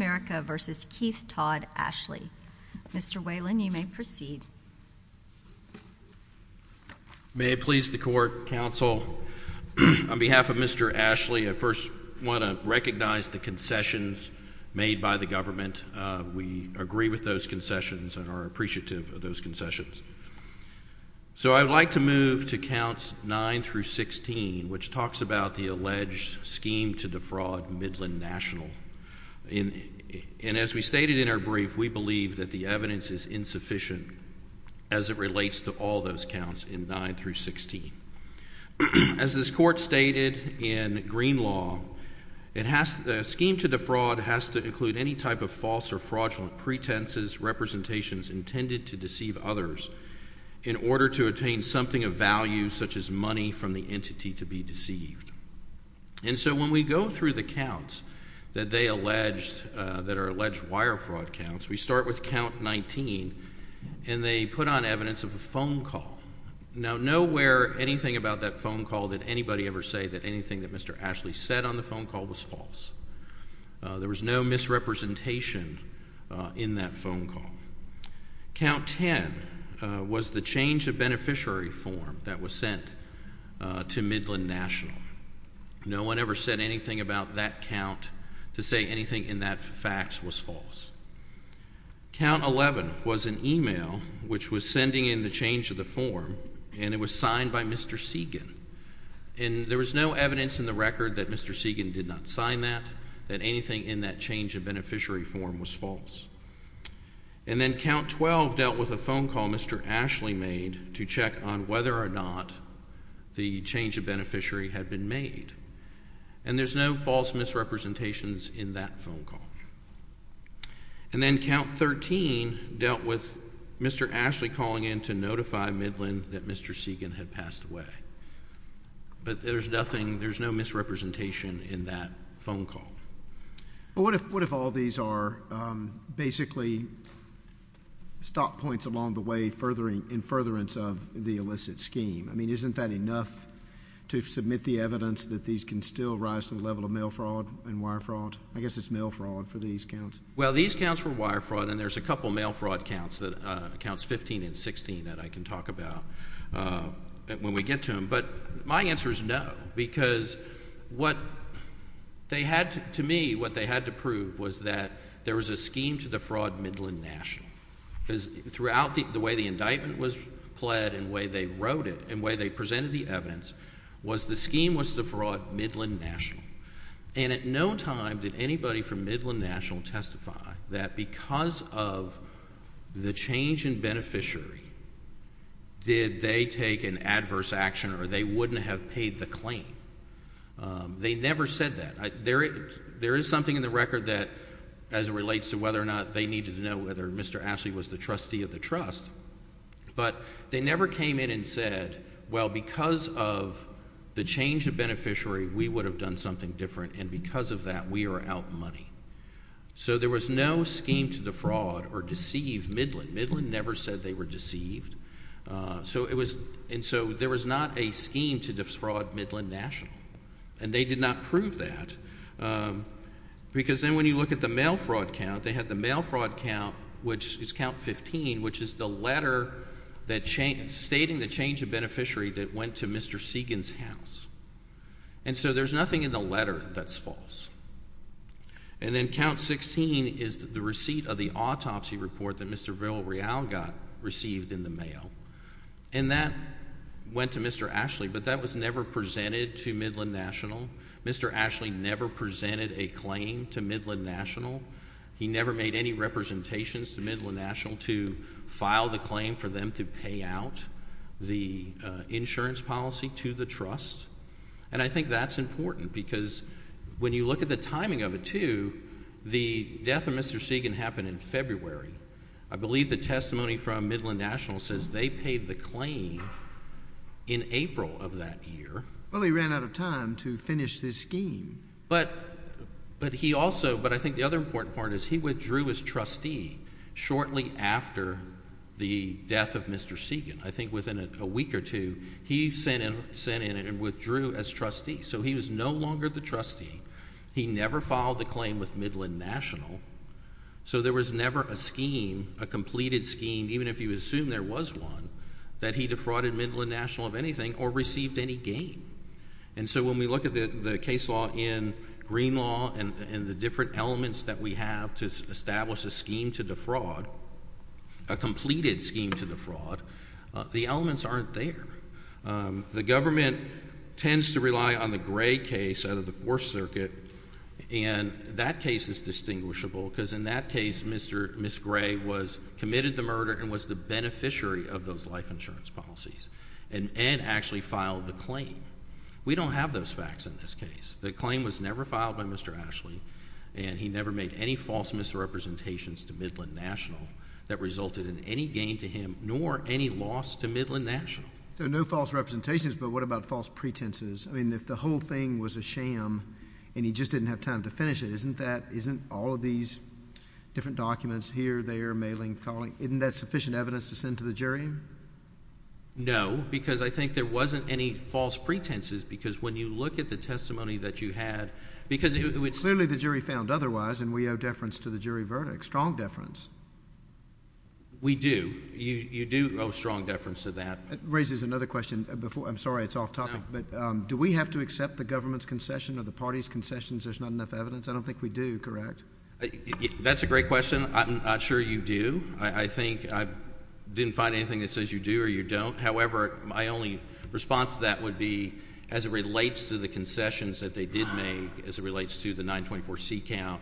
America v. Keith Todd Ashley. Mr. Whalen, you may proceed. May it please the Court, Counsel, on behalf of Mr. Ashley, I first want to recognize the concessions made by the government. We agree with those concessions and are appreciative of those concessions. So I would like to move to Counts 9-16, which talks about the alleged scheme to defraud Midland National. And as we stated in our brief, we believe that the evidence is insufficient as it relates to all those counts in 9-16. As this Court stated in Green Law, a scheme to defraud has to include any type of false or fraudulent pretenses, representations intended to deceive others in order to attain something of value such as money from the entity to be deceived. And so when we go through the counts that they alleged, that are alleged wire fraud counts, we start with Count 19, and they put on evidence of a phone call. Now nowhere, anything about that phone call did anybody ever say that anything that Mr. Ashley said on the phone call was false. There was no misrepresentation in that phone call. Count 10 was the change of beneficiary form that was sent to Midland National. No one ever said anything about that count to say anything in that fax was false. Count 11 was an email which was sending in the change of the form, and it was signed by Mr. Segan. And there was no evidence in the record that Mr. Segan did not sign that, that anything in that change of beneficiary form was false. And then Count 12 dealt with a phone call Mr. Ashley made to check on whether or not the change of beneficiary had been made. And there's no false misrepresentations in that phone call. And then Count 13 dealt with Mr. Ashley calling in to notify Midland that Mr. Segan had passed away. But there's nothing, there's no misrepresentation in that phone call. But what if, what if all these are basically stop points along the way furthering, in furtherance of the illicit scheme? I mean, isn't that enough to submit the evidence that these can still rise to the level of mail fraud and wire fraud? I guess it's mail fraud for these counts. Well, these counts were wire fraud, and there's a couple mail fraud counts that, Counts 15 and 16 that I can talk about when we get to them. But my answer is no, because what they had to, to me, what they had to prove was that there was a scheme to defraud Midland National. Because throughout the way the indictment was pled, and the way they wrote it, and the way they presented the evidence, was the scheme was to defraud Midland National. And at no time did anybody from Midland National testify that because of the change in beneficiary, did they take an adverse action, or they wouldn't have paid the claim. They never said that. There, there is something in the record that, as it relates to whether or not they needed to know whether Mr. Ashley was the trustee of the trust, but they never came in and said, well, because of the change of beneficiary, we would have done something different, and because of that, we are out money. So there was no scheme to defraud or deceive Midland. Midland never said they were deceived. So it was, and so there was not a scheme to defraud Midland National. And they did not prove that. Because then when you look at the mail fraud count, they had the mail fraud count, which is count 15, which is the letter that changed, stating the change of beneficiary that went to Mr. Segan's house. And so there's nothing in the letter that's false. And then count 16 is the receipt of the autopsy report that Mr. Villarreal got, received in the mail. And that went to Mr. Ashley, but that was never presented to Midland National. Mr. Ashley never presented a claim to Midland National. He never made any representations to Midland National to file the claim for them to pay out the insurance policy to the trust. And I think that's important, because when you look at the timing of it, too, the death of Mr. Segan happened in February. I believe the testimony from Midland National says they paid the claim in April of that year. Well, he ran out of time to finish this scheme. But he also, but I think the other important part is he withdrew as trustee shortly after the death of Mr. Segan. I think within a week or two, he sent in and withdrew as trustee. So he was no longer the trustee. He never filed the claim with Midland National. So there was never a scheme, a completed scheme, even if you assume there was one, that he defrauded Midland National of anything or received any gain. And so when we look at the case law in Green Law and the different elements that we have to establish a scheme to defraud, a completed scheme to defraud, the elements aren't there. The government tends to rely on the Gray case out of the Fourth Circuit, and that case is distinguishable, because in that case, Ms. Gray committed the murder and was the beneficiary of those life insurance policies and actually filed the claim. We don't have those facts in this case. The claim was never filed by Mr. Ashley, and he never made any false misrepresentations to Midland National that resulted in any gain to him nor any loss to Midland National. So no false representations, but what about false pretenses? I mean, if the whole thing was a sham and he just didn't have time to finish it, isn't that, isn't all of these different documents here, there, mailing, calling, isn't that sufficient evidence to send to the jury? No, because I think there wasn't any false pretenses, because when you look at the testimony that you had, because it would— Clearly the jury found otherwise, and we owe deference to the jury verdict. Strong deference. We do. You do owe strong deference to that. That raises another question. I'm sorry, it's off topic, but do we have to accept the government's concession or the party's concessions? There's not enough evidence. I don't think we do, correct? That's a great question. I'm not sure you do. I think I didn't find anything that says you do or you don't. However, my only response to that would be, as it relates to the concessions that they did make, as it relates to the 924C count,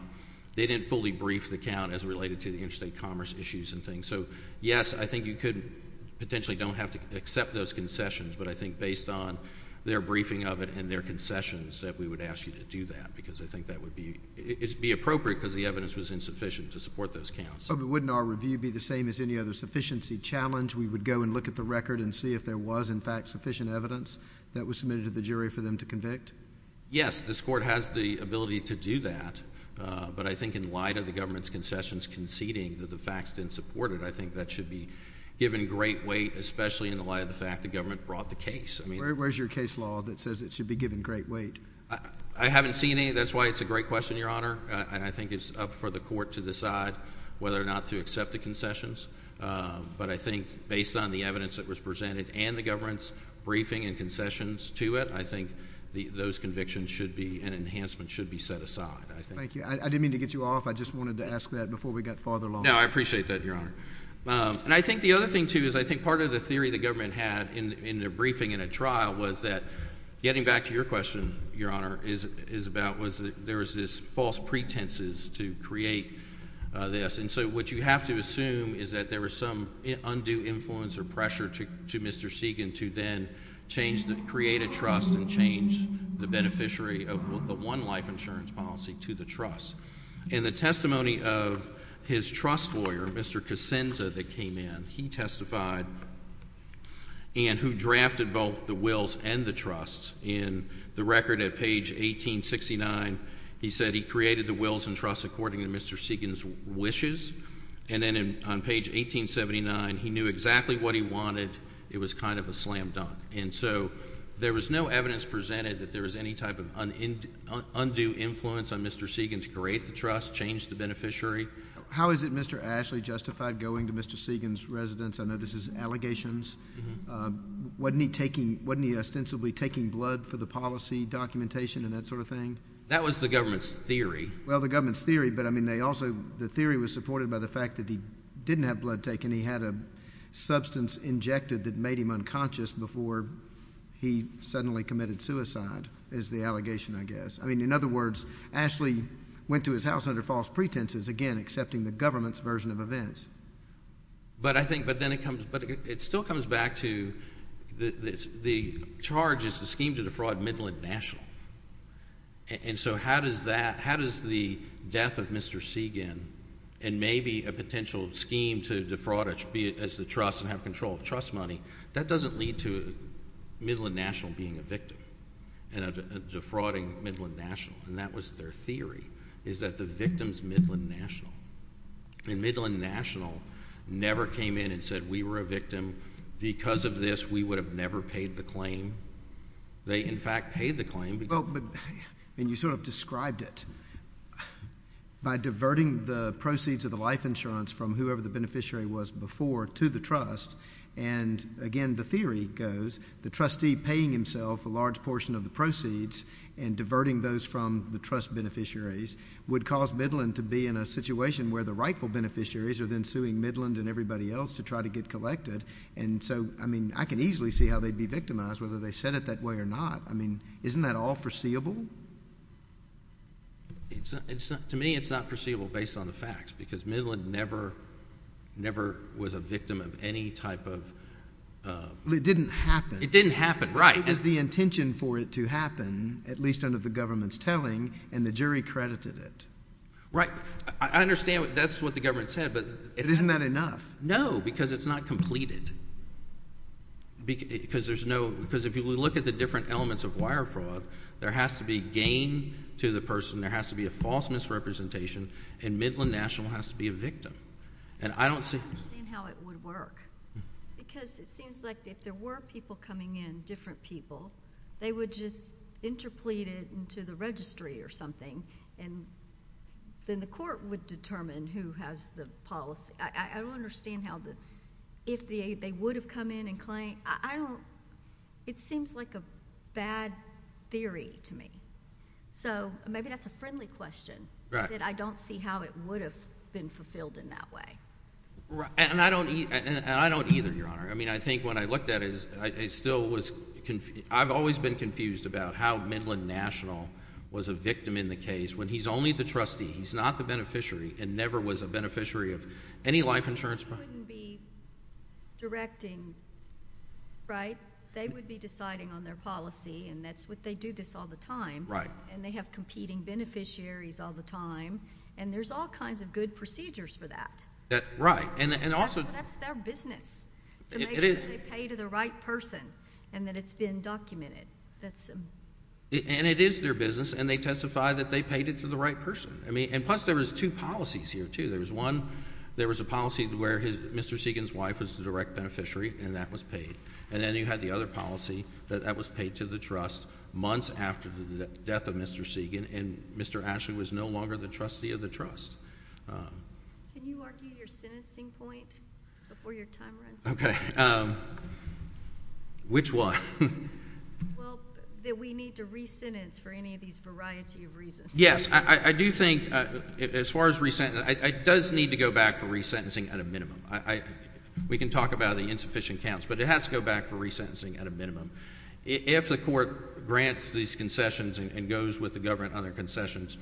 they didn't fully brief the count as it related to the interstate commerce issues and things. So yes, I think you could potentially don't have to accept those concessions, but I think based on their briefing of it and their concessions that we would ask you to do that, because I think that would be—it would be appropriate because the evidence was insufficient to support those counts. But wouldn't our review be the same as any other sufficiency challenge? We would go and look at the record and see if there was, in fact, sufficient evidence that was submitted to the jury for them to convict? Yes, this Court has the ability to do that, but I think in light of the government's concessions conceding that the facts didn't support it, I think that should be given great weight, especially in the light of the fact the government brought the case. Where's your case law that says it should be given great weight? I haven't seen any. That's why it's a great question, Your Honor. I think it's up for the Court to decide whether or not to accept the concessions. But I think based on the evidence that was presented and the government's briefing and concessions to it, I think those convictions should be—an enhancement should be set aside, I think. Thank you. I didn't mean to get you off. I just wanted to ask that before we got farther along. No, I appreciate that, Your Honor. And I think the other thing, too, is I think part of the theory the government had in their briefing in a trial was that—getting back to your question, Your Honor—is about was that there was this false pretenses to create this. And so what you have to assume is that there was some undue influence or pressure to Mr. Segan to then change the—create a trust and change the beneficiary of the one-life insurance policy to the trust. In the testimony of his trust lawyer, Mr. Kacinza, that came in, he testified and who drafted both the wills and the trusts. In the record at page 1869, he said he created the wills and trusts according to Mr. Segan's wishes. And then on page 1879, he knew exactly what he wanted. It was kind of a slam dunk. And so there was no evidence presented that there was any type of undue influence on Mr. Segan to create the trust, change the beneficiary. How is it Mr. Ashley justified going to Mr. Segan's residence? I know this is allegations. Wasn't he taking—wasn't he ostensibly taking blood for the policy documentation and that sort of thing? That was the government's theory. Well, the government's theory, but, I mean, they also—the theory was supported by the fact that he didn't have blood taken. He had a substance injected that made him unconscious before he suddenly committed suicide is the allegation, I guess. I mean, in other words, Ashley went to his house under false pretenses, again, accepting the government's version of events. But I think—but then it comes—but it still comes back to the charge is the scheme to defraud Midland National. And so how does that—how does the death of Mr. Segan and maybe a potential scheme to defraud as the trust and have control of trust money, that doesn't lead to Midland National being a victim and defrauding Midland National. And that was their theory, is that the victim's Midland National. And Midland National never came in and said, we were a victim. Because of this, we would have never paid the claim. They in fact paid the claim. Well, but—and you sort of described it. By diverting the proceeds of the life insurance from whoever the beneficiary was before to the trust, and again, the theory goes, the trustee paying himself a large portion of the proceeds and diverting those from the trust beneficiaries would cause Midland to be in a situation where the rightful beneficiaries are then suing Midland and everybody else to try to get collected. And so, I mean, I can easily see how they'd be victimized, whether they said it that way or not. I mean, isn't that all foreseeable? To me, it's not foreseeable based on the facts, because Midland never was a victim of any type of— Well, it didn't happen. It didn't happen, right. It was the intention for it to happen, at least under the government's telling, and the jury credited it. Right. I understand that's what the government said, but— Isn't that enough? No, because it's not completed. Because there's no—because if you look at the different elements of wire fraud, there has to be gain to the person, there has to be a false misrepresentation, and Midland National has to be a victim. And I don't see— I don't understand how it would work, because it seems like if there were people coming in, different people, they would just interplete it into the registry or something, and then the court would determine who has the policy. I don't understand how the—if they would have come in and claimed—I don't—it seems like a bad theory to me. So maybe that's a friendly question, that I don't see how it would have been fulfilled in that way. And I don't either, Your Honor. I mean, I think when I looked at it, I still was—I've always been confused about how Midland National was a victim in the case, when he's only the trustee, he's not the beneficiary, and never was a beneficiary of any life insurance plan. But they wouldn't be directing, right? They would be deciding on their policy, and that's what they do this all the time. Right. And they have competing beneficiaries all the time, and there's all kinds of good procedures for that. Right. And also— That's their business, to make sure they pay to the right person, and that it's been documented. That's— And it is their business, and they testify that they paid it to the right person. I mean—and Plus, there was two policies here, too. There was one, there was a policy where Mr. Segan's wife was the direct beneficiary, and that was paid. And then you had the other policy that that was paid to the trust months after the death of Mr. Segan, and Mr. Ashley was no longer the trustee of the trust. Can you argue your sentencing point before your time runs out? Okay. Which one? Well, that we need to re-sentence for any of these variety of reasons. Yes. I do think, as far as re-sentencing, it does need to go back for re-sentencing at a minimum. We can talk about the insufficient counts, but it has to go back for re-sentencing at a minimum. If the court grants these concessions and goes with the government on their concessions,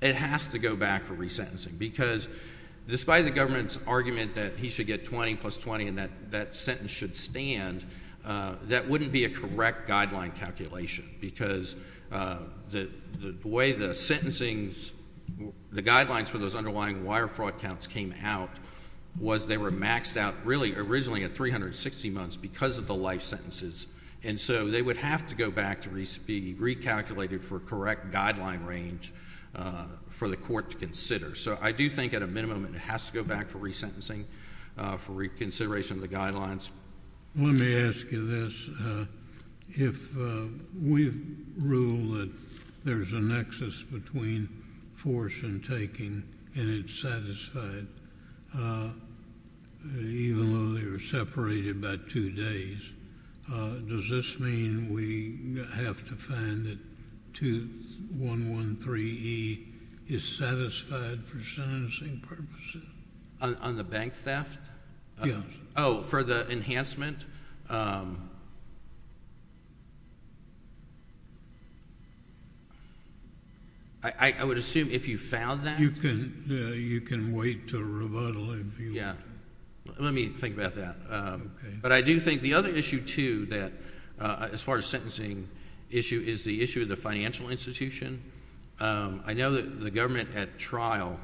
it has to go back for re-sentencing, because despite the government's argument that he should get 20 plus 20 and that sentence should stand, that wouldn't be a correct guideline calculation, because the way the sentencings, the guidelines for those underlying wire fraud counts came out was they were maxed out really originally at 360 months because of the life sentences, and so they would have to go back to be recalculated for correct guideline range for the court to consider. So I do think at a minimum it has to go back for re-sentencing for reconsideration of the guidelines. Let me ask you this. If we rule that there's a nexus between force and taking and it's satisfied, even though they were separated by two days, does this mean we have to find that 2113E is satisfied for sentencing purposes? On the bank theft? Yes. Oh, for the enhancement? I would assume if you found that? You can wait to rebuttal if you want. Let me think about that. But I do think the other issue, too, that as far as sentencing issue is the issue of the financial institution. I know that the government at trial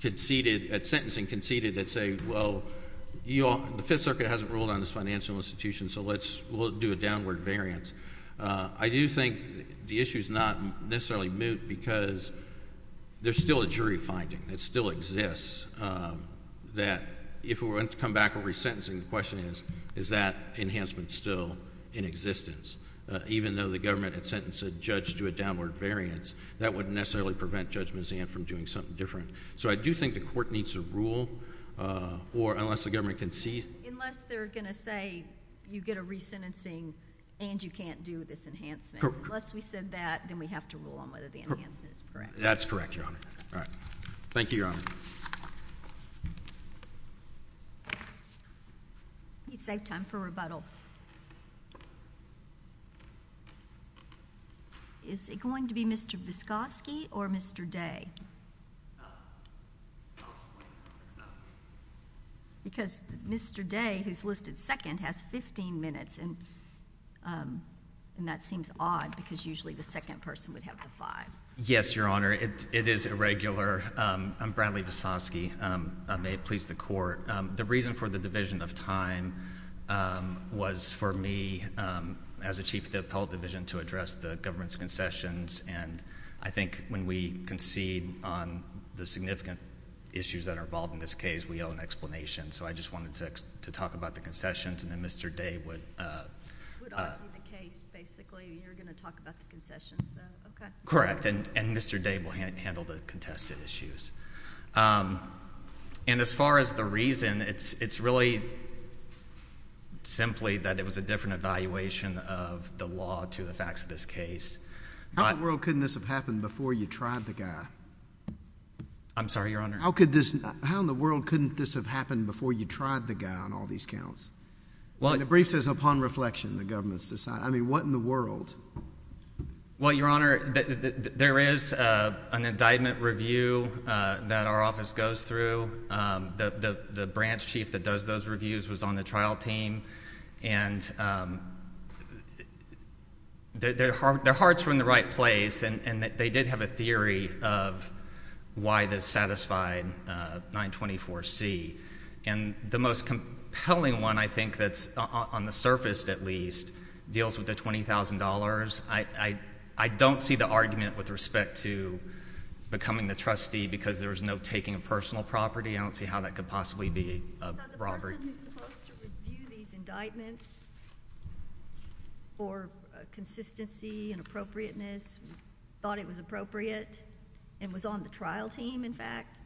conceded, at sentencing conceded that, say, well, the Fifth Circuit hasn't ruled on this financial institution, so we'll do a downward variance. I do think the issue is not necessarily moot because there's still a jury finding that still exists that if we're going to come back and re-sentencing, the question is, is that enhancement still in existence? Even though the government had sentenced a judge to a downward variance, that wouldn't necessarily prevent Judge Mazzan from doing something different. So I do think the court needs to rule, or unless the government concedes... Unless they're going to say, you get a re-sentencing and you can't do this enhancement. Unless we said that, then we have to rule on whether the enhancement is correct. That's correct, Your Honor. All right. Thank you, Your Honor. We've saved time for rebuttal. Is it going to be Mr. Vizkoski or Mr. Day? Because Mr. Day, who's listed second, has 15 minutes, and that seems odd because usually the second person would have the 5. Yes, Your Honor. It is irregular. I'm Bradley Vizkoski. May it please the Court. The reason for the division of time was for me, as a Chief of the Appellate Division, to address the government's concessions, and I think when we concede on the significant issues that are involved in this case, we owe an explanation. So I just wanted to talk about the concessions, and then Mr. Day would... Would argue the case, basically. You're going to talk about the concessions, though. Okay. Correct, and Mr. Day will handle the contested issues. And as far as the reason, it's really simply that it was a different evaluation of the law to the facts of this case. How in the world couldn't this have happened before you tried the guy? I'm sorry, Your Honor. How in the world couldn't this have happened before you tried the guy on all these counts? The brief says, upon reflection, the government's concessions. I mean, what in the world? Well, Your Honor, there is an indictment review that our office goes through. The branch chief that does those reviews was on the trial team, and their hearts were in the right place, and they did have a theory of why this satisfied 924C. And the most compelling one, I think, that's on the surface, at least, deals with the $20,000. I don't see the argument with respect to becoming the trustee because there was no taking of personal property. I don't see how that could possibly be a robbery. So the person who's supposed to review these indictments for consistency and appropriateness thought it was appropriate and was on the trial team, in fact?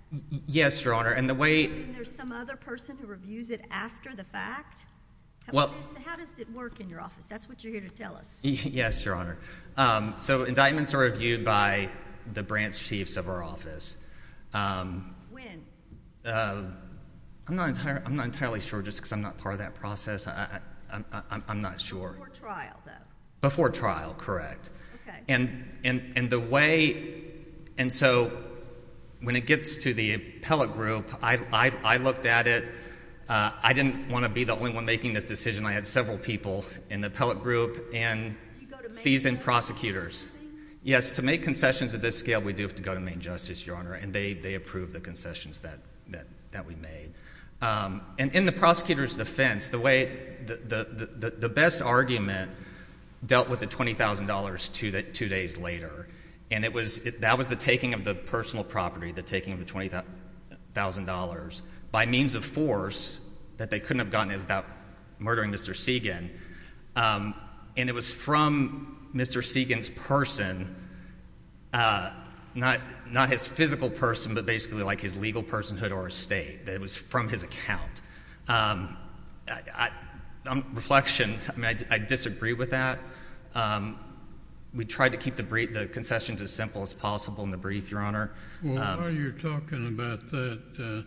Yes, Your Honor. And the way— And there's some other person who reviews it after the fact? Well— How does it work in your office? That's what you're here to tell us. Yes, Your Honor. So indictments are reviewed by the branch chiefs of our office. When? I'm not entirely sure just because I'm not part of that process. I'm not sure. Before trial, though? Before trial, correct. Okay. And the way—and so when it gets to the appellate group, I looked at it. I didn't want to be the only one making this decision. I had several people in the appellate group and seasoned prosecutors. Yes. To make concessions of this scale, we do have to go to Maine justice, Your Honor, and they approve the concessions that we made. And in the prosecutor's defense, the way—the best argument dealt with the $20,000 two days later. And it was—that was the taking of the personal property, the taking of the $20,000, by means of force that they couldn't have gotten it without murdering Mr. Segan. And it was from Mr. Segan's person, not his physical person, but basically like his legal personhood or estate. It was from his account. I'm—reflection. I mean, I disagree with that. We tried to keep the concessions as simple as possible in the brief, Your Honor. Well, while you're talking about that,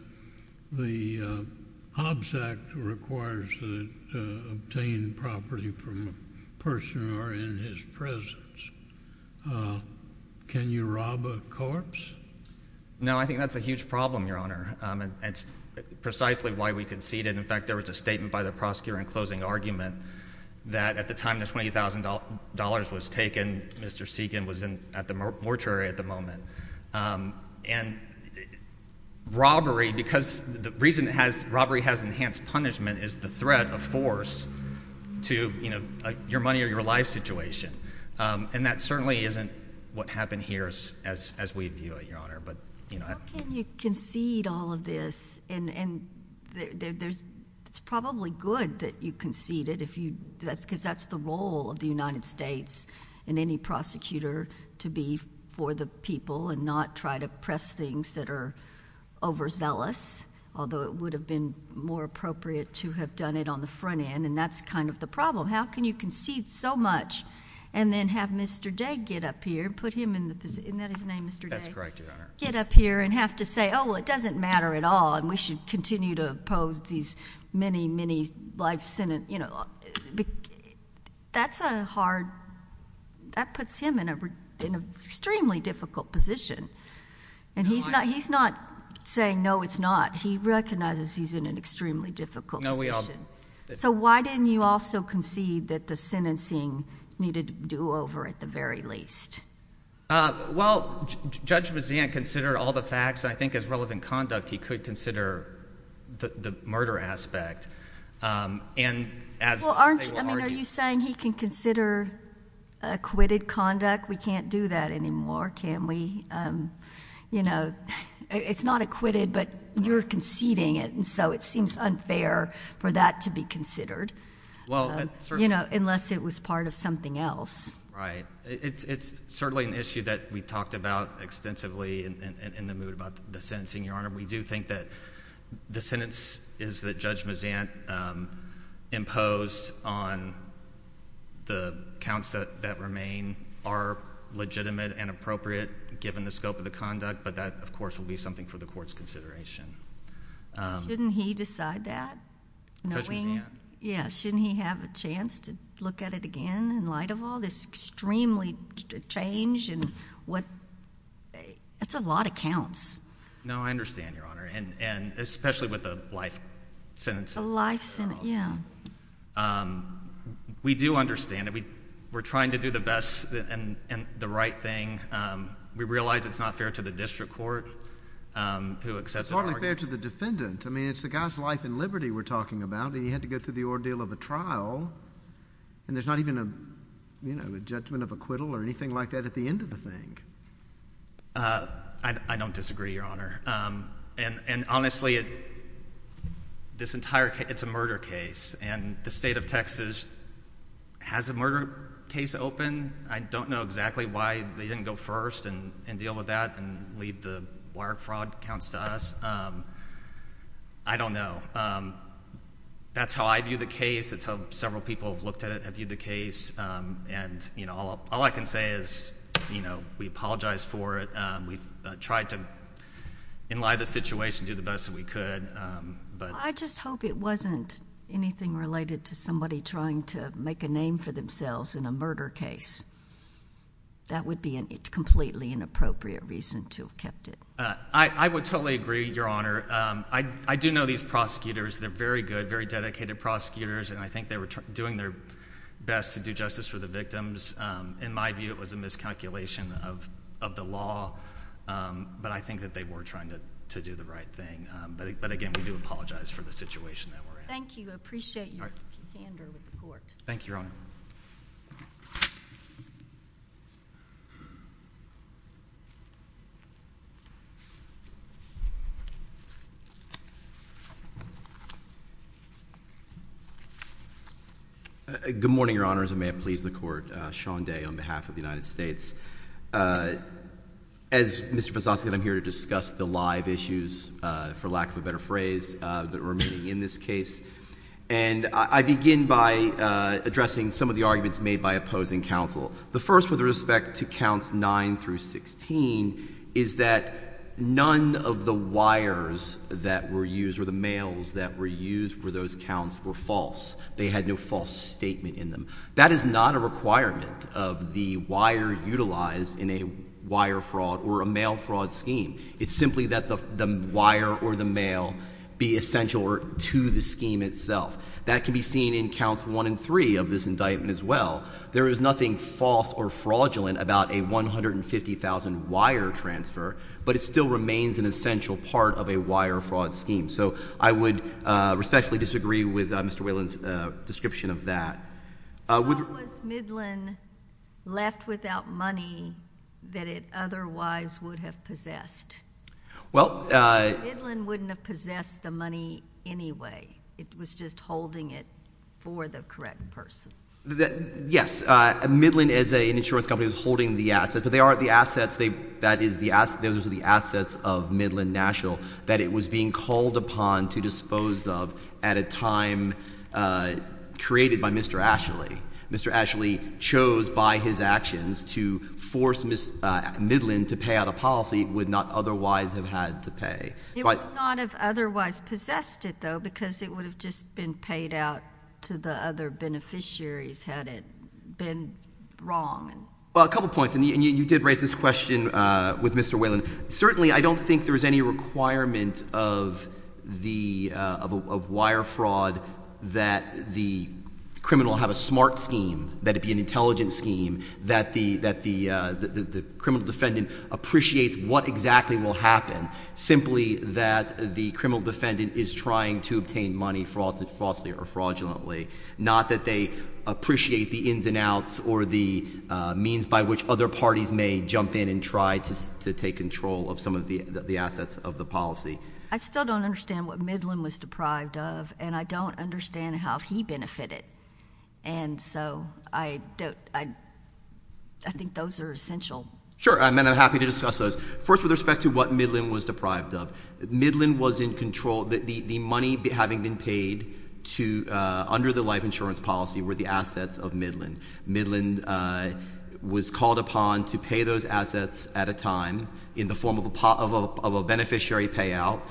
the Hobbs Act requires that you obtain property from a person who are in his presence. Can you rob a corpse? No, I think that's a huge problem, Your Honor. And it's precisely why we conceded. In fact, there was a statement by the prosecutor in closing argument that at the time the $20,000 was taken, Mr. Segan was in—at the mortuary at the moment. And robbery—because the reason it has—robbery has enhanced punishment is the threat of force to, you know, your money or your life situation. And that certainly isn't what happened here as we view it, Your Honor. But, you know— How can you concede all of this? And there's—it's probably good that you conceded if you—because that's the role of the United States and any prosecutor to be for the people and not try to press things that are overzealous, although it would have been more appropriate to have made on the front end, and that's kind of the problem. How can you concede so much and then have Mr. Day get up here and put him in the—isn't that his name, Mr. Day? That's correct, Your Honor. Get up here and have to say, oh, well, it doesn't matter at all and we should continue to oppose these many, many life sentence—you know, that's a hard—that puts him in a—in an extremely difficult position. And he's not saying, no, it's not. He recognizes he's in an extremely difficult position. No, we all— So, why didn't you also concede that the sentencing needed to be do-over at the very least? Well, Judge Bazant considered all the facts, and I think as relevant conduct, he could consider the murder aspect. And as— Well, aren't—I mean, are you saying he can consider acquitted conduct? We can't do that anymore, can we? You know, it's not acquitted, but you're conceding it, and so it seems unfair for that to be considered. Well, it certainly— You know, unless it was part of something else. Right. It's certainly an issue that we talked about extensively in the moot about the sentencing, Your Honor. We do think that the sentence is that Judge Bazant imposed on the counts that remain are legitimate and appropriate given the scope of the conduct, but that, of course, will be something for the Court's consideration. Shouldn't he decide that, knowing— Judge Bazant. Yeah. Shouldn't he have a chance to look at it again in light of all this extremely change in what—that's a lot of counts. No, I understand, Your Honor, and especially with a life sentence. A life sentence, yeah. We do understand it. We're trying to do the best and the right thing. We realize it's not fair to the District Court, who accepted our request— But it's not only fair to the defendant. I mean, it's the guy's life and liberty we're talking about, and he had to go through the ordeal of a trial, and there's not even a, you know, a judgment of acquittal or anything like that at the end of the thing. I don't disagree, Your Honor, and honestly, this entire—it's a murder case, and the State of Texas has a murder case open. I don't know exactly why they didn't go first and deal with that and leave the wire fraud counts to us. I don't know. That's how I view the case. It's how several people have looked at it, have viewed the case, and, you know, all I can say is, you know, we apologize for it. We've tried to enliven the situation, do the best that we could, but— I just hope it wasn't anything related to somebody trying to make a name for themselves in a murder case. That would be a completely inappropriate reason to have kept it. I would totally agree, Your Honor. I do know these prosecutors. They're very good, very dedicated prosecutors, and I think they were doing their best to do justice for the victims. In my view, it was a miscalculation of the law, but I think that they were trying to do the right thing. But again, we do apologize for the situation that we're in. Thank you. I appreciate your candor with the Court. Thank you, Your Honor. Good morning, Your Honors, and may it please the Court. Sean Day on behalf of the United States. As Mr. Vazoski said, I'm here to discuss the live issues, for lack of a better phrase, that are remaining in this case. And I begin by addressing some of the arguments made by opposing counsel. The first, with respect to counts 9 through 16, is that none of the wires that were used, or the mails that were used for those counts, were false. They had no false statement in them. That is not a requirement of the wire utilized in a wire fraud or a mail fraud scheme. It's simply that the wire or the mail be essential to the scheme itself. That can be seen in counts 1 and 3 of this indictment as well. There is nothing false or fraudulent about a $150,000 wire transfer, but it still remains an essential part of a wire fraud scheme. So I would respectfully disagree with Mr. Whalen's description of that. How was Midland left without money that it otherwise would have possessed? Midland wouldn't have possessed the money anyway. It was just holding it for the correct person. Yes. Midland, as an insurance company, was holding the assets. But they aren't the assets. That is, those are the assets of Midland National that it was being called upon to dispose of at a time created by Mr. Ashley. Mr. Ashley chose by his actions to force Midland to pay out a policy it would not otherwise have had to pay. It would not have otherwise possessed it, though, because it would have just been paid out to the other beneficiaries had it been wrong. Well, a couple points. And you did raise this question with Mr. Whalen. Certainly, I don't think there is any requirement of wire fraud that the criminal have a smart scheme, that it be an intelligent scheme, that the criminal defendant appreciates what exactly will happen, simply that the criminal defendant is trying to obtain money fraudulently, not that they appreciate the ins and outs or the means by which other parties may jump in and try to take control of some of the assets of the policy. I still don't understand what Midland was deprived of, and I don't understand how he benefited. And so I think those are essential. Sure. And I'm happy to discuss those. First, with respect to what Midland was deprived of, Midland was in control. The money having been paid under the life insurance policy were the assets of Midland. Midland was called upon to pay those assets at a time in the form of a beneficiary payout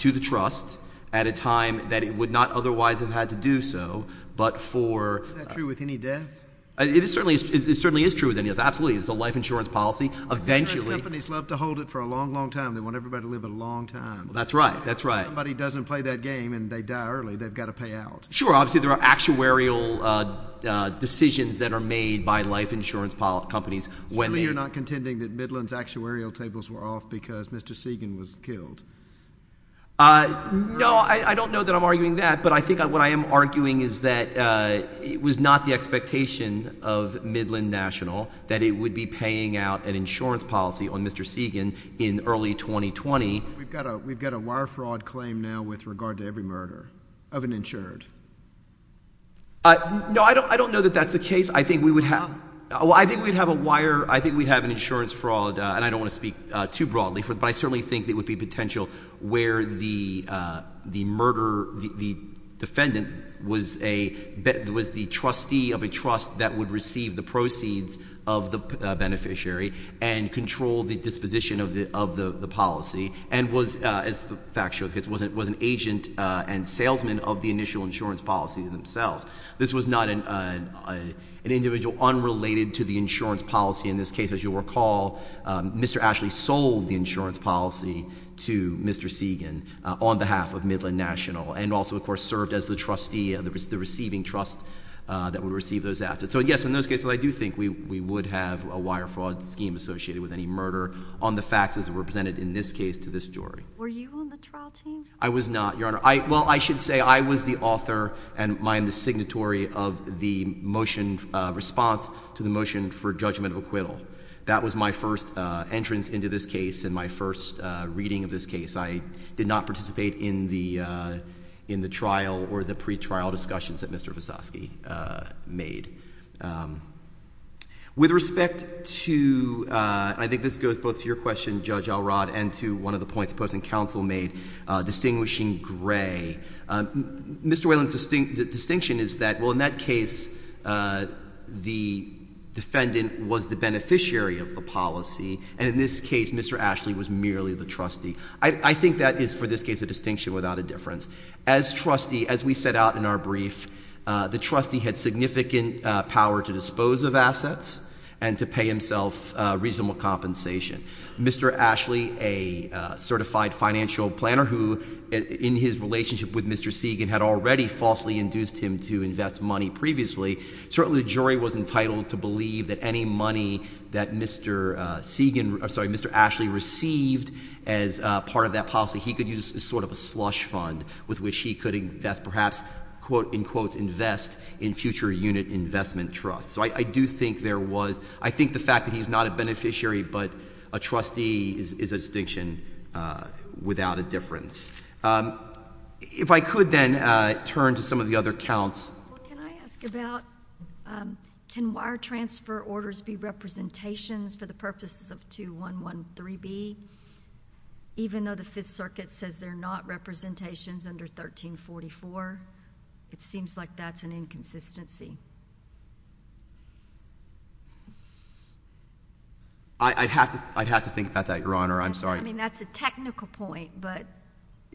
to the trust at a time that it would not otherwise have had to do so, but for— Is that true with any death? It certainly is true with any death, absolutely. It's a life insurance policy. Eventually— Life insurance companies love to hold it for a long, long time. They want everybody to live a long time. That's right. That's right. If somebody doesn't play that game and they die early, they've got to pay out. Sure. Obviously, there are actuarial decisions that are made by life insurance companies when they— Surely you're not contending that Midland's actuarial tables were off because Mr. Segan was killed? No, I don't know that I'm arguing that, but I think what I am arguing is that it was not the expectation of Midland National that it would be paying out an insurance policy on Mr. Segan in early 2020. We've got a wire fraud claim now with regard to every murder of an insured. No, I don't know that that's the case. I think we would have— Why? Well, I think we'd have a wire—I think we'd have an insurance fraud, and I don't want to speak too broadly, but I certainly think there would be potential where the murderer, the defendant, was the trustee of a trust that would receive the proceeds of the beneficiary and control the disposition of the policy and was, as the facts show, was an agent and salesman of the initial insurance policy themselves. This was not an individual unrelated to the insurance policy. In this case, as you'll recall, Mr. Ashley sold the insurance policy to Mr. Segan on behalf of Midland National and also, of course, served as the trustee of the receiving trust that would receive those assets. So, yes, in those cases, I do think we would have a wire fraud scheme associated with any murder on the facts as it were presented in this case to this jury. Were you on the trial team? I was not, Your Honor. Well, I should say I was the author and I am the signatory of the motion response to the motion for judgment of acquittal. That was my first entrance into this case and my first reading of this case. I did not participate in the trial or the pre-trial discussions that Mr. Visosky made. With respect to, I think this goes both to your question, Judge Alrod, and to one of the points the opposing counsel made, distinguishing Gray. Mr. Whalen's distinction is that, well, in that case, the defendant was the beneficiary of the policy and in this case, Mr. Ashley was merely the trustee. I think that is, for this case, a distinction without a difference. As trustee, as we set out in our brief, the trustee had significant power to dispose of assets and to pay himself reasonable compensation. Mr. Ashley, a certified financial planner who, in his relationship with Mr. Segan, had already falsely induced him to invest money previously, certainly the jury was entitled to believe that any money that Mr. Segan, I'm sorry, Mr. Ashley received as part of that policy, he could use as sort of a slush fund with which he could invest, perhaps, in quotes, invest in future unit investment trusts. So I do think there was, I think the fact that he's not a beneficiary but a trustee is a distinction without a difference. If I could then turn to some of the other counts. Well, can I ask about, can wire transfer orders be representations for the purposes of 2113B, even though the Fifth Circuit says they're not representations under 1344? It seems like that's an inconsistency. I'd have to think about that, Your Honor. I'm sorry. I mean, that's a technical point, but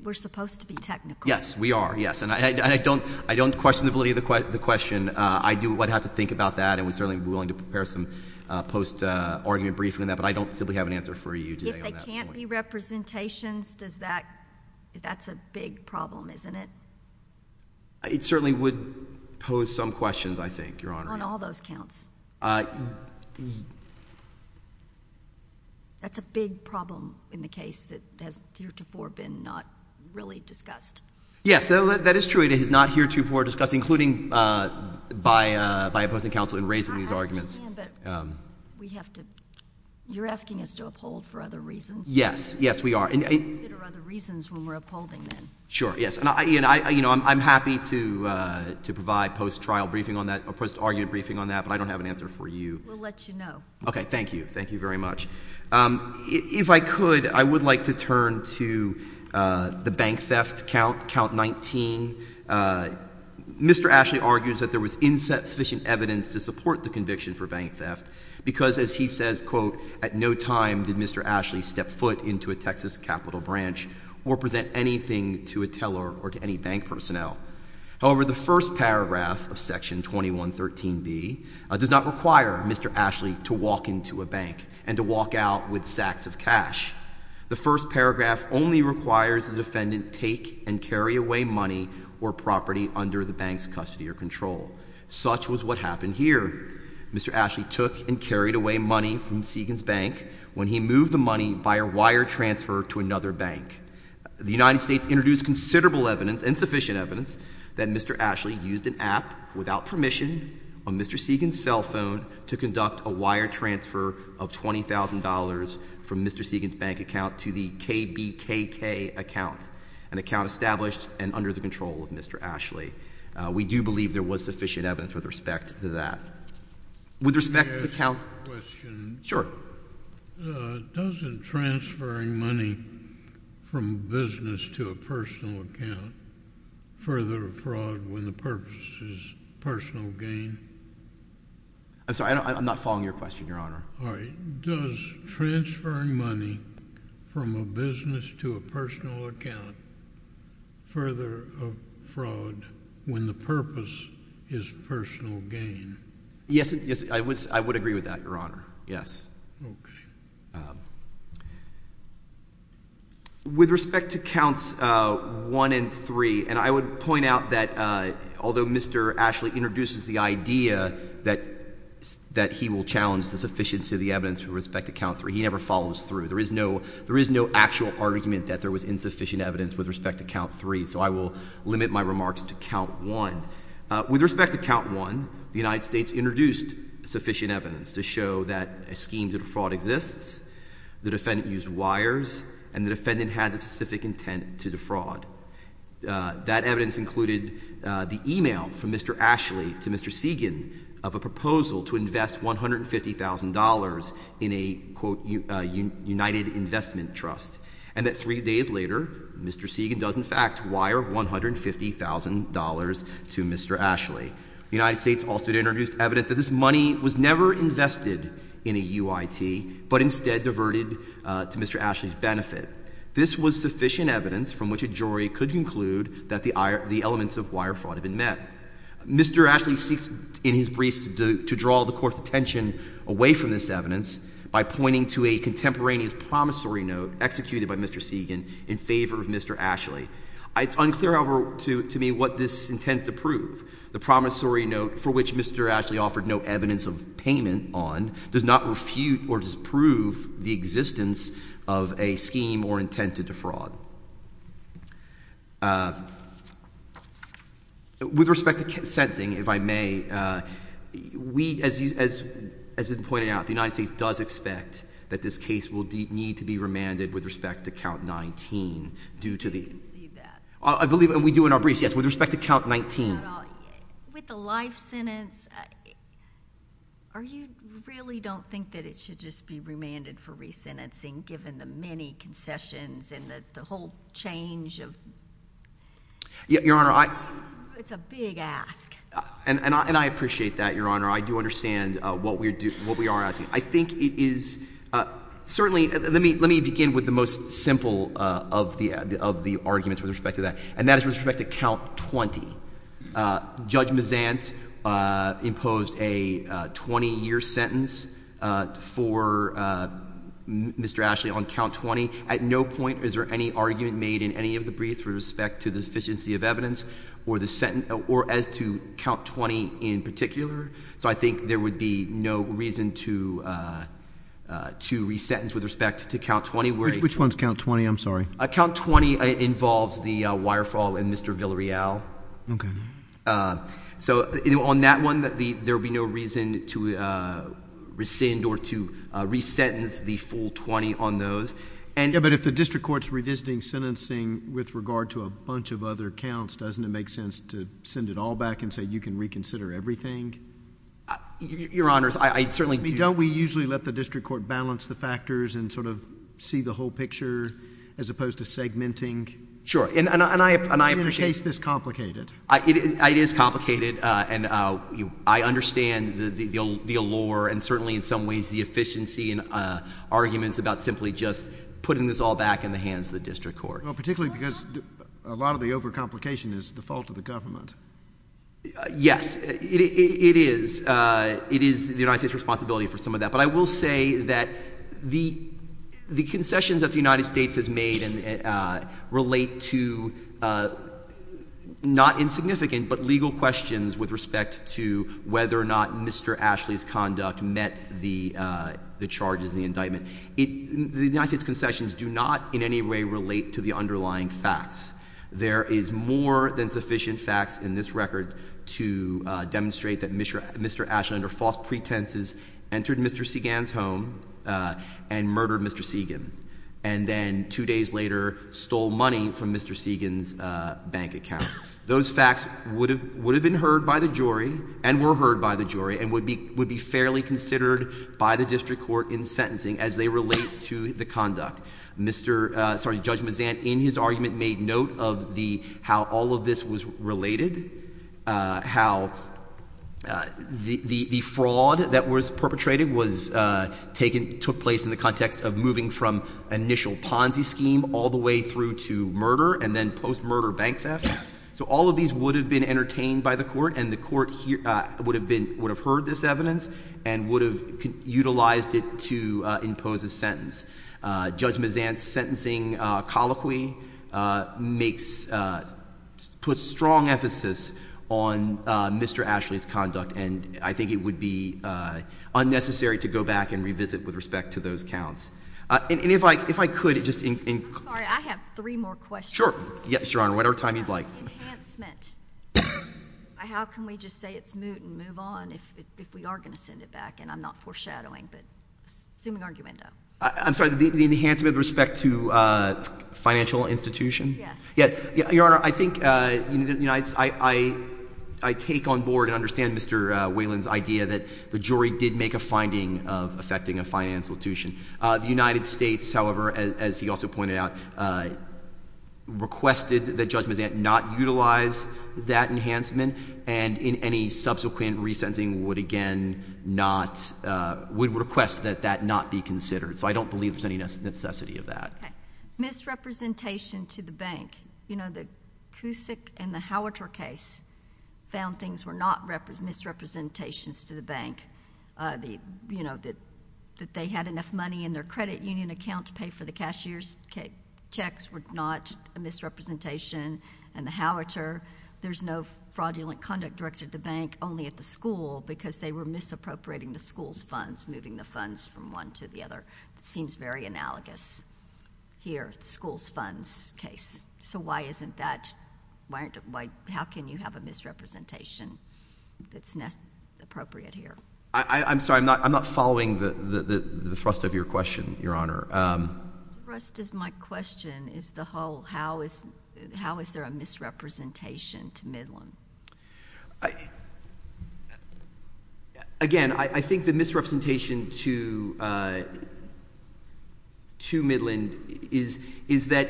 we're supposed to be technical. Yes, we are, yes. And I don't question the validity of the question. I do, I'd have to think about that, and we'd certainly be willing to prepare some post-argument briefing on that, but I don't simply have an answer for you today on that. If they can't be representations, does that, that's a big problem, isn't it? It certainly would pose some questions, I think, Your Honor. On all those counts? That's a big problem in the case that has heretofore been not really discussed. Yes, that is true. It is not heretofore discussed, including by opposing counsel in raising these arguments. Ian, but we have to — you're asking us to uphold for other reasons. Yes, yes, we are. We have to consider other reasons when we're upholding them. Sure, yes. And, Ian, I'm happy to provide post-trial briefing on that, or post-argument briefing on that, but I don't have an answer for you. We'll let you know. Okay. Thank you. Thank you very much. If I could, I would like to turn to the bank theft count, count 19. Mr. Ashley argues that there was insufficient evidence to support the conviction for bank theft because, as he says, quote, at no time did Mr. Ashley step foot into a Texas capital branch or present anything to a teller or to any bank personnel. However, the first paragraph of section 2113B does not require Mr. Ashley to walk into a bank and to walk out with sacks of cash. The first paragraph only requires the defendant take and carry away money or property under the bank's custody or control. Such was what happened here. Mr. Ashley took and carried away money from Seegans Bank when he moved the money by a wire transfer to another bank. The United States introduced considerable evidence, insufficient evidence, that Mr. Ashley used an app without permission on Mr. Seegans' cell phone to conduct a wire transfer of $20,000 from Mr. Seegans' bank account to the KBKK account, an account established and under the control of Mr. Ashley. We do believe there was sufficient evidence with respect to that. With respect to count— Can I ask a question? Sure. Doesn't transferring money from a business to a personal account further a fraud when the purpose is personal gain? I'm sorry. I'm not following your question, Your Honor. All right. Doesn't transferring money from a business to a personal account further a fraud when the purpose is personal gain? Yes, I would agree with that, Your Honor. Yes. Okay. With respect to counts 1 and 3, and I would point out that although Mr. Ashley introduces the idea that he will challenge the sufficiency of the evidence with respect to count 3, he never follows through. There is no actual argument that there was insufficient evidence with respect to count 3, so I will limit my remarks to count 1. With respect to count 1, the United States introduced sufficient evidence to show that a scheme to defraud exists, the defendant used wires, and the defendant had the specific intent to defraud. That evidence included the email from Mr. Ashley to Mr. Segan of a proposal to invest $150,000 in a, quote, United Investment Trust, and that three days later, Mr. Segan does, in fact, wire $150,000 to Mr. Ashley. The United States also introduced evidence that this money was never invested in a UIT, but instead diverted to Mr. Ashley's benefit. This was sufficient evidence from which a jury could conclude that the elements of wire fraud had been met. Mr. Ashley seeks, in his briefs, to draw the Court's attention away from this evidence by pointing to a contemporaneous promissory note executed by Mr. Segan in favor of Mr. Ashley. It's unclear, however, to me what this intends to prove. The promissory note for which Mr. Ashley offered no evidence of payment on does not refute or disprove the existence of a scheme or intent to defraud. With respect to sentencing, if I may, as has been pointed out, the United States does expect that this case will need to be remanded with respect to count 19 due to the— I didn't see that. I believe, and we do in our briefs, yes, with respect to count 19. With the life sentence, you really don't think that it should just be remanded for resentencing given the many concessions and the whole change of— Your Honor, I— It's a big ask. And I appreciate that, Your Honor. I do understand what we are asking. I think it is—certainly, let me begin with the most simple of the arguments with respect to that, and that is with respect to count 20. Judge Mazant imposed a 20-year sentence for Mr. Ashley on count 20. At no point is there any argument made in any of the briefs with respect to the deficiency of evidence or as to count 20 in particular. So I think there would be no reason to resentence with respect to count 20. Which one's count 20? I'm sorry. Count 20 involves the wire fall in Mr. Villarreal. Okay. So on that one, there would be no reason to rescind or to resentence the full 20 on those. Yeah, but if the district court's revisiting sentencing with regard to a bunch of other counts, doesn't it make sense to send it all back and say you can reconsider everything? Your Honors, I certainly do. Don't we usually let the district court balance the factors and sort of see the whole picture as opposed to segmenting? Sure, and I appreciate— It is complicated, and I understand the allure and certainly in some ways the efficiency and arguments about simply just putting this all back in the hands of the district court. Well, particularly because a lot of the overcomplication is the fault of the government. Yes, it is. It is the United States' responsibility for some of that. I will say that the concessions that the United States has made relate to not insignificant but legal questions with respect to whether or not Mr. Ashley's conduct met the charges in the indictment. The United States' concessions do not in any way relate to the underlying facts. There is more than sufficient facts in this record to demonstrate that Mr. Ashley, under false pretenses, entered Mr. Segan's home and murdered Mr. Segan, and then two days later stole money from Mr. Segan's bank account. Those facts would have been heard by the jury and were heard by the jury and would be fairly considered by the district court in sentencing as they relate to the conduct. Judge Mazan, in his argument, made note of how all of this was related, how the fraud that was perpetrated was taken, took place in the context of moving from initial Ponzi scheme all the way through to murder and then post-murder bank theft. So all of these would have been entertained by the court and the court would have heard this evidence and would have utilized it to impose a sentence. Judge Mazan's sentencing colloquy puts strong emphasis on Mr. Ashley's conduct, and I think it would be unnecessary to go back and revisit with respect to those counts. And if I could, just in— I'm sorry. I have three more questions. Sure. Yes, Your Honor. Whatever time you'd like. Enhancement. How can we just say it's moot and move on if we are going to send it back? And I'm not foreshadowing, but assuming arguendo. I'm sorry, the enhancement with respect to financial institution? Yes. Yeah. Your Honor, I think, you know, I take on board and understand Mr. Whalen's idea that the jury did make a finding of affecting a financial institution. The United States, however, as he also pointed out, requested that Judge Mazan not utilize that enhancement and in any subsequent resentencing would again not—would request that that not be considered. So I don't believe there's any necessity of that. Okay. Misrepresentation to the bank. You know, the Cusick and the Howiter case found things were not misrepresentations to the bank. You know, that they had enough money in their credit union account to pay for the cashier's checks were not a misrepresentation. And the Howiter, there's no fraudulent conduct directed at the bank, only at the school, because they were misappropriating the school's funds, moving the funds from one to the other. It seems very analogous here, the school's funds case. So why isn't that—how can you have a misrepresentation that's appropriate here? I'm sorry, I'm not following the thrust of your question, Your Honor. The thrust of my question is the whole how is there a misrepresentation to Midland? Again, I think the misrepresentation to Midland is that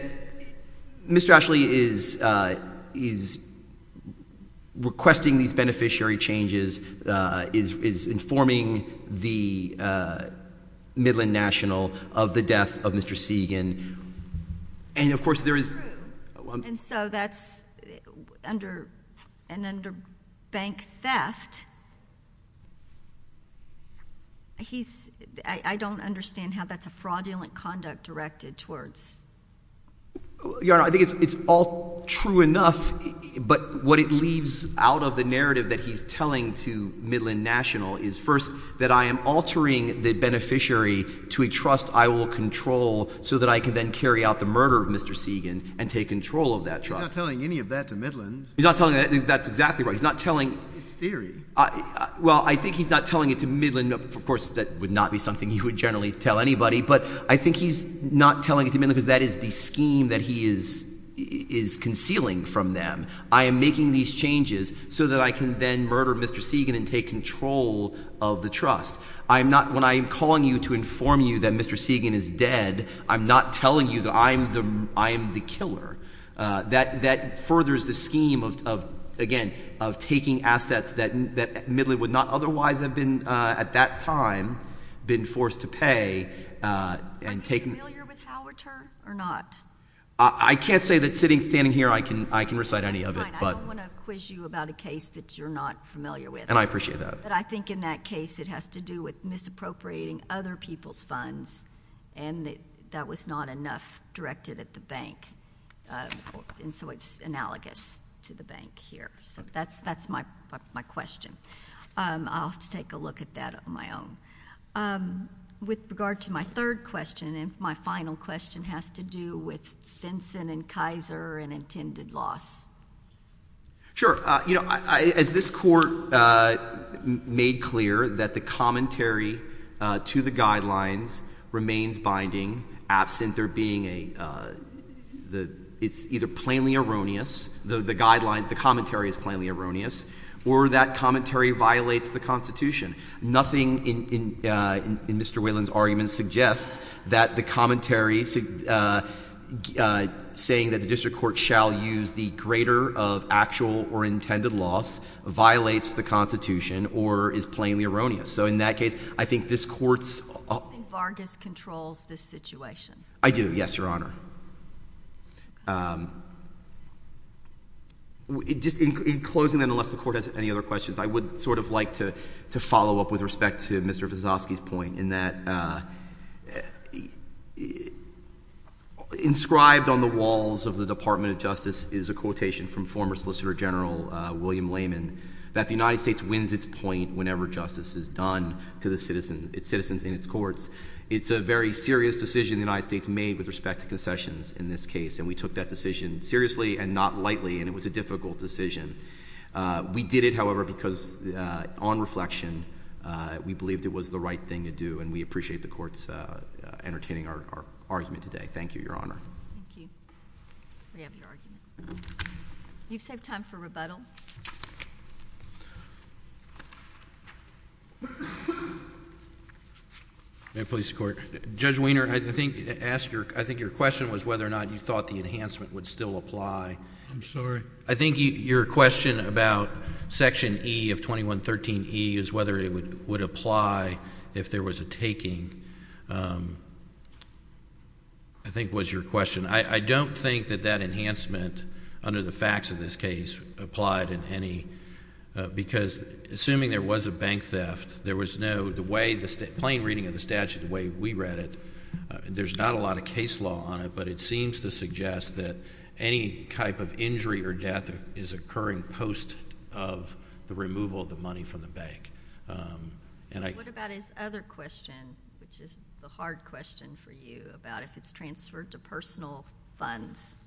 Mr. Ashley is requesting these beneficiary changes, is informing the Midland National of the death of Mr. Segan, and of course there is— And so that's an underbank theft. I don't understand how that's a fraudulent conduct directed towards— Your Honor, I think it's all true enough, but what it leaves out of the narrative that he's telling to Midland National is first that I am altering the beneficiary to a trust I will control so that I can then carry out the murder of Mr. Segan and take control of that trust. He's not telling any of that to Midland. He's not telling—that's exactly right. He's not telling— It's theory. Well, I think he's not telling it to Midland. Of course, that would not be something you would generally tell anybody, but I think he's not telling it to Midland because that is the scheme that he is concealing from them. I am making these changes so that I can then murder Mr. Segan and take control of the trust. When I am calling you to inform you that Mr. Segan is dead, I'm not telling you that I am the killer. That furthers the scheme of, again, of taking assets that Midland would not otherwise have at that time been forced to pay and taking— Are you familiar with Howarter or not? I can't say that sitting, standing here, I can recite any of it, but— Fine. I don't want to quiz you about a case that you're not familiar with. And I appreciate that. But I think in that case, it has to do with misappropriating other people's funds and that that was not enough directed at the bank. And so it's analogous to the bank here. So that's my question. I'll have to take a look at that on my own. With regard to my third question, and my final question, has to do with Stinson and Kaiser and intended loss. Sure. You know, as this Court made clear that the commentary to the guidelines remains binding absent there being a — it's either plainly erroneous, the guideline, the commentary is plainly erroneous, or that commentary violates the Constitution. Nothing in Mr. Whelan's argument suggests that the commentary saying that the district court shall use the greater of actual or intended loss violates the Constitution or is plainly erroneous. So in that case, I think this Court's— Do you think Vargas controls this situation? I do, yes, Your Honor. Just in closing, and unless the Court has any other questions, I would sort of like to follow up with respect to Mr. Vizosky's point in that inscribed on the walls of the Department of Justice is a quotation from former Solicitor General William Lehman that the United States wins its point whenever justice is done to the citizens in its courts. It's a very serious decision the United States made with respect to concessions in this case, and we took that decision seriously and not lightly, and it was a difficult decision. We did it, however, because on reflection, we believed it was the right thing to do, and we appreciate the Court's entertaining our argument today. Thank you, Your Honor. Thank you. We have your argument. You've saved time for rebuttal. May it please the Court? Judge Weiner, I think your question was whether or not you thought the enhancement would still apply. I'm sorry? I think your question about Section E of 2113E is whether it would apply if there was a taking, I think, was your question. I don't think that that enhancement under the facts of this case applied in any... because assuming there was a bank theft, there was no... the plain reading of the statute the way we read it, there's not a lot of case law on it, but it seems to suggest that any type of injury or death is occurring post of the removal of the money from the bank. What about his other question, which is the hard question for you, about if it's transferred to personal funds?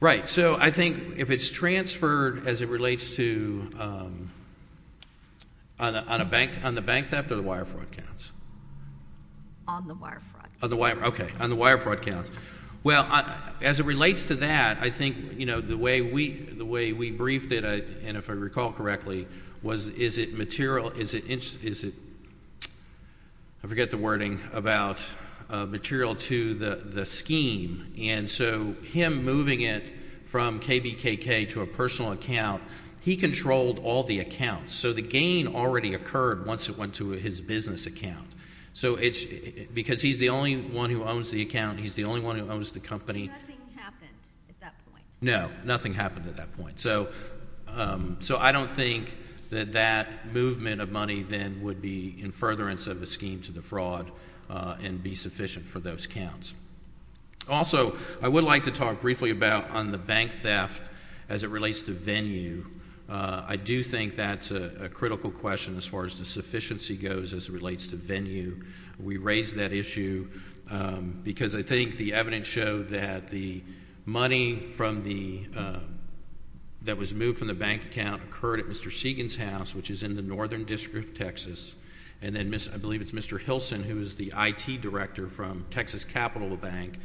Right. So I think if it's transferred as it relates to... on the bank theft or the wire fraud counts? On the wire fraud. On the wire fraud. Okay. On the wire fraud counts. Well, as it relates to that, I think the way we briefed it, and if I recall correctly, was is it material... is it... I forget the wording about material to the scheme. And so him moving it from KBKK to a personal account, he controlled all the accounts. So the gain already occurred once it went to his business account. So it's... because he's the only one who owns the account. He's the only one who owns the company. Nothing happened at that point. No. Nothing happened at that point. So I don't think that that movement of money then would be in furtherance of the scheme to the fraud and be sufficient for those counts. Also, I would like to talk briefly about on the bank theft as it relates to venue. I do think that's a critical question as far as the sufficiency goes as it relates to venue. We raised that issue because I think the evidence showed that the money from the... that was moved from the bank account occurred at Mr. Segan's house, which is in the northern district of Texas. And then I believe it's Mr. Hilson, who is the IT director from Texas Capital Bank,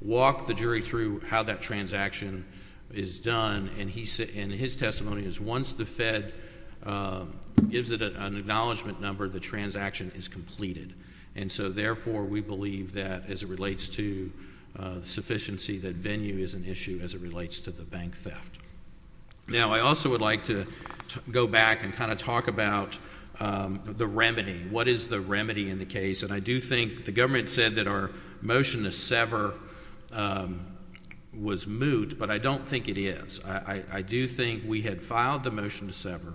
walked the jury through how that transaction is done. And his testimony is once the Fed gives it an acknowledgement number, the transaction is completed. And so therefore, we believe that as it relates to sufficiency, that venue is an issue as it relates to the bank theft. Now, I also would like to go back and kind of talk about the remedy. What is the remedy in the case? And I do think the government said that our motion to sever was moot, but I don't think it is. I do think we had filed the motion to sever.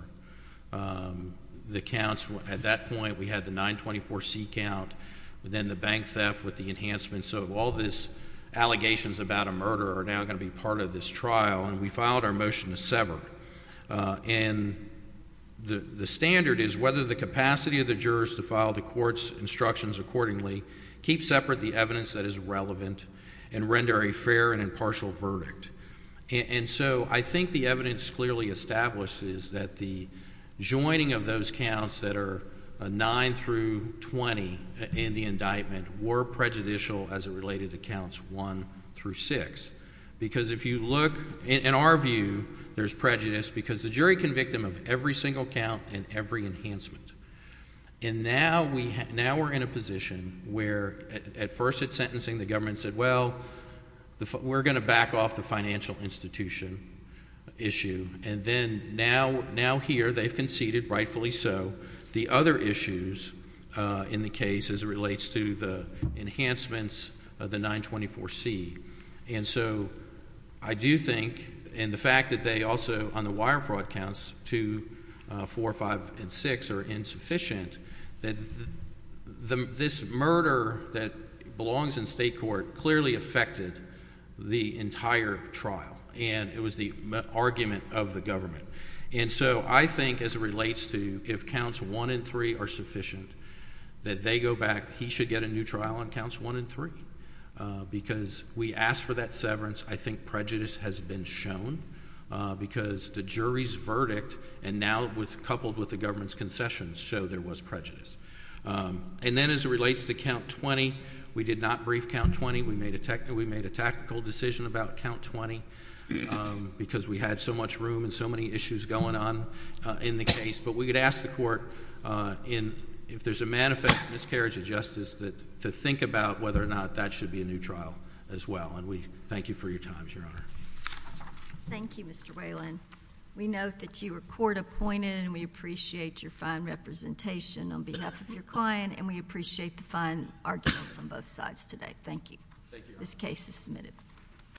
The counts, at that point, we had the 924C count, then the bank theft with the enhancements. So all these allegations about a murder are now going to be part of this trial, and we filed our motion to sever. And the standard is whether the capacity of the jurors to file the court's instructions accordingly, keep separate the evidence that is relevant, and render a fair and impartial verdict. And so I think the evidence clearly establishes that the joining of those counts that are 9 through 20 in the indictment were prejudicial as it related to counts 1 through 6. Because if you look, in our view, there's prejudice, because the jury can victim of every single count and every enhancement. And now we're in a position where at first at sentencing, the government said, well, we're going to back off the financial institution issue. And then now here, they've conceded, rightfully so, the other issues in the case as it relates to the enhancements of the 924C. And so I do think, and the fact that they also, on the wire fraud counts, 2, 4, 5, and 6 are insufficient, that this murder that belongs in state court clearly affected the entire trial. And it was the argument of the government. And so I think as it relates to if counts 1 and 3 are sufficient, that they go back, he should get a new trial on counts 1 and 3. Because we asked for that severance, I think prejudice has been shown. Because the jury's verdict, and now coupled with the government's concession, show there was prejudice. And then as it relates to count 20, we did not brief count 20, we made a tactical decision about count 20, because we had so much room and so many issues going on in the case. But we could ask the court, if there's a manifest miscarriage of justice, to think about whether or not that should be a new trial as well. And we thank you for your time, Your Honor. Thank you, Mr. Whalen. We note that you were court appointed, and we appreciate your fine representation on behalf of your client. And we appreciate the fine arguments on both sides today. Thank you. This case is submitted.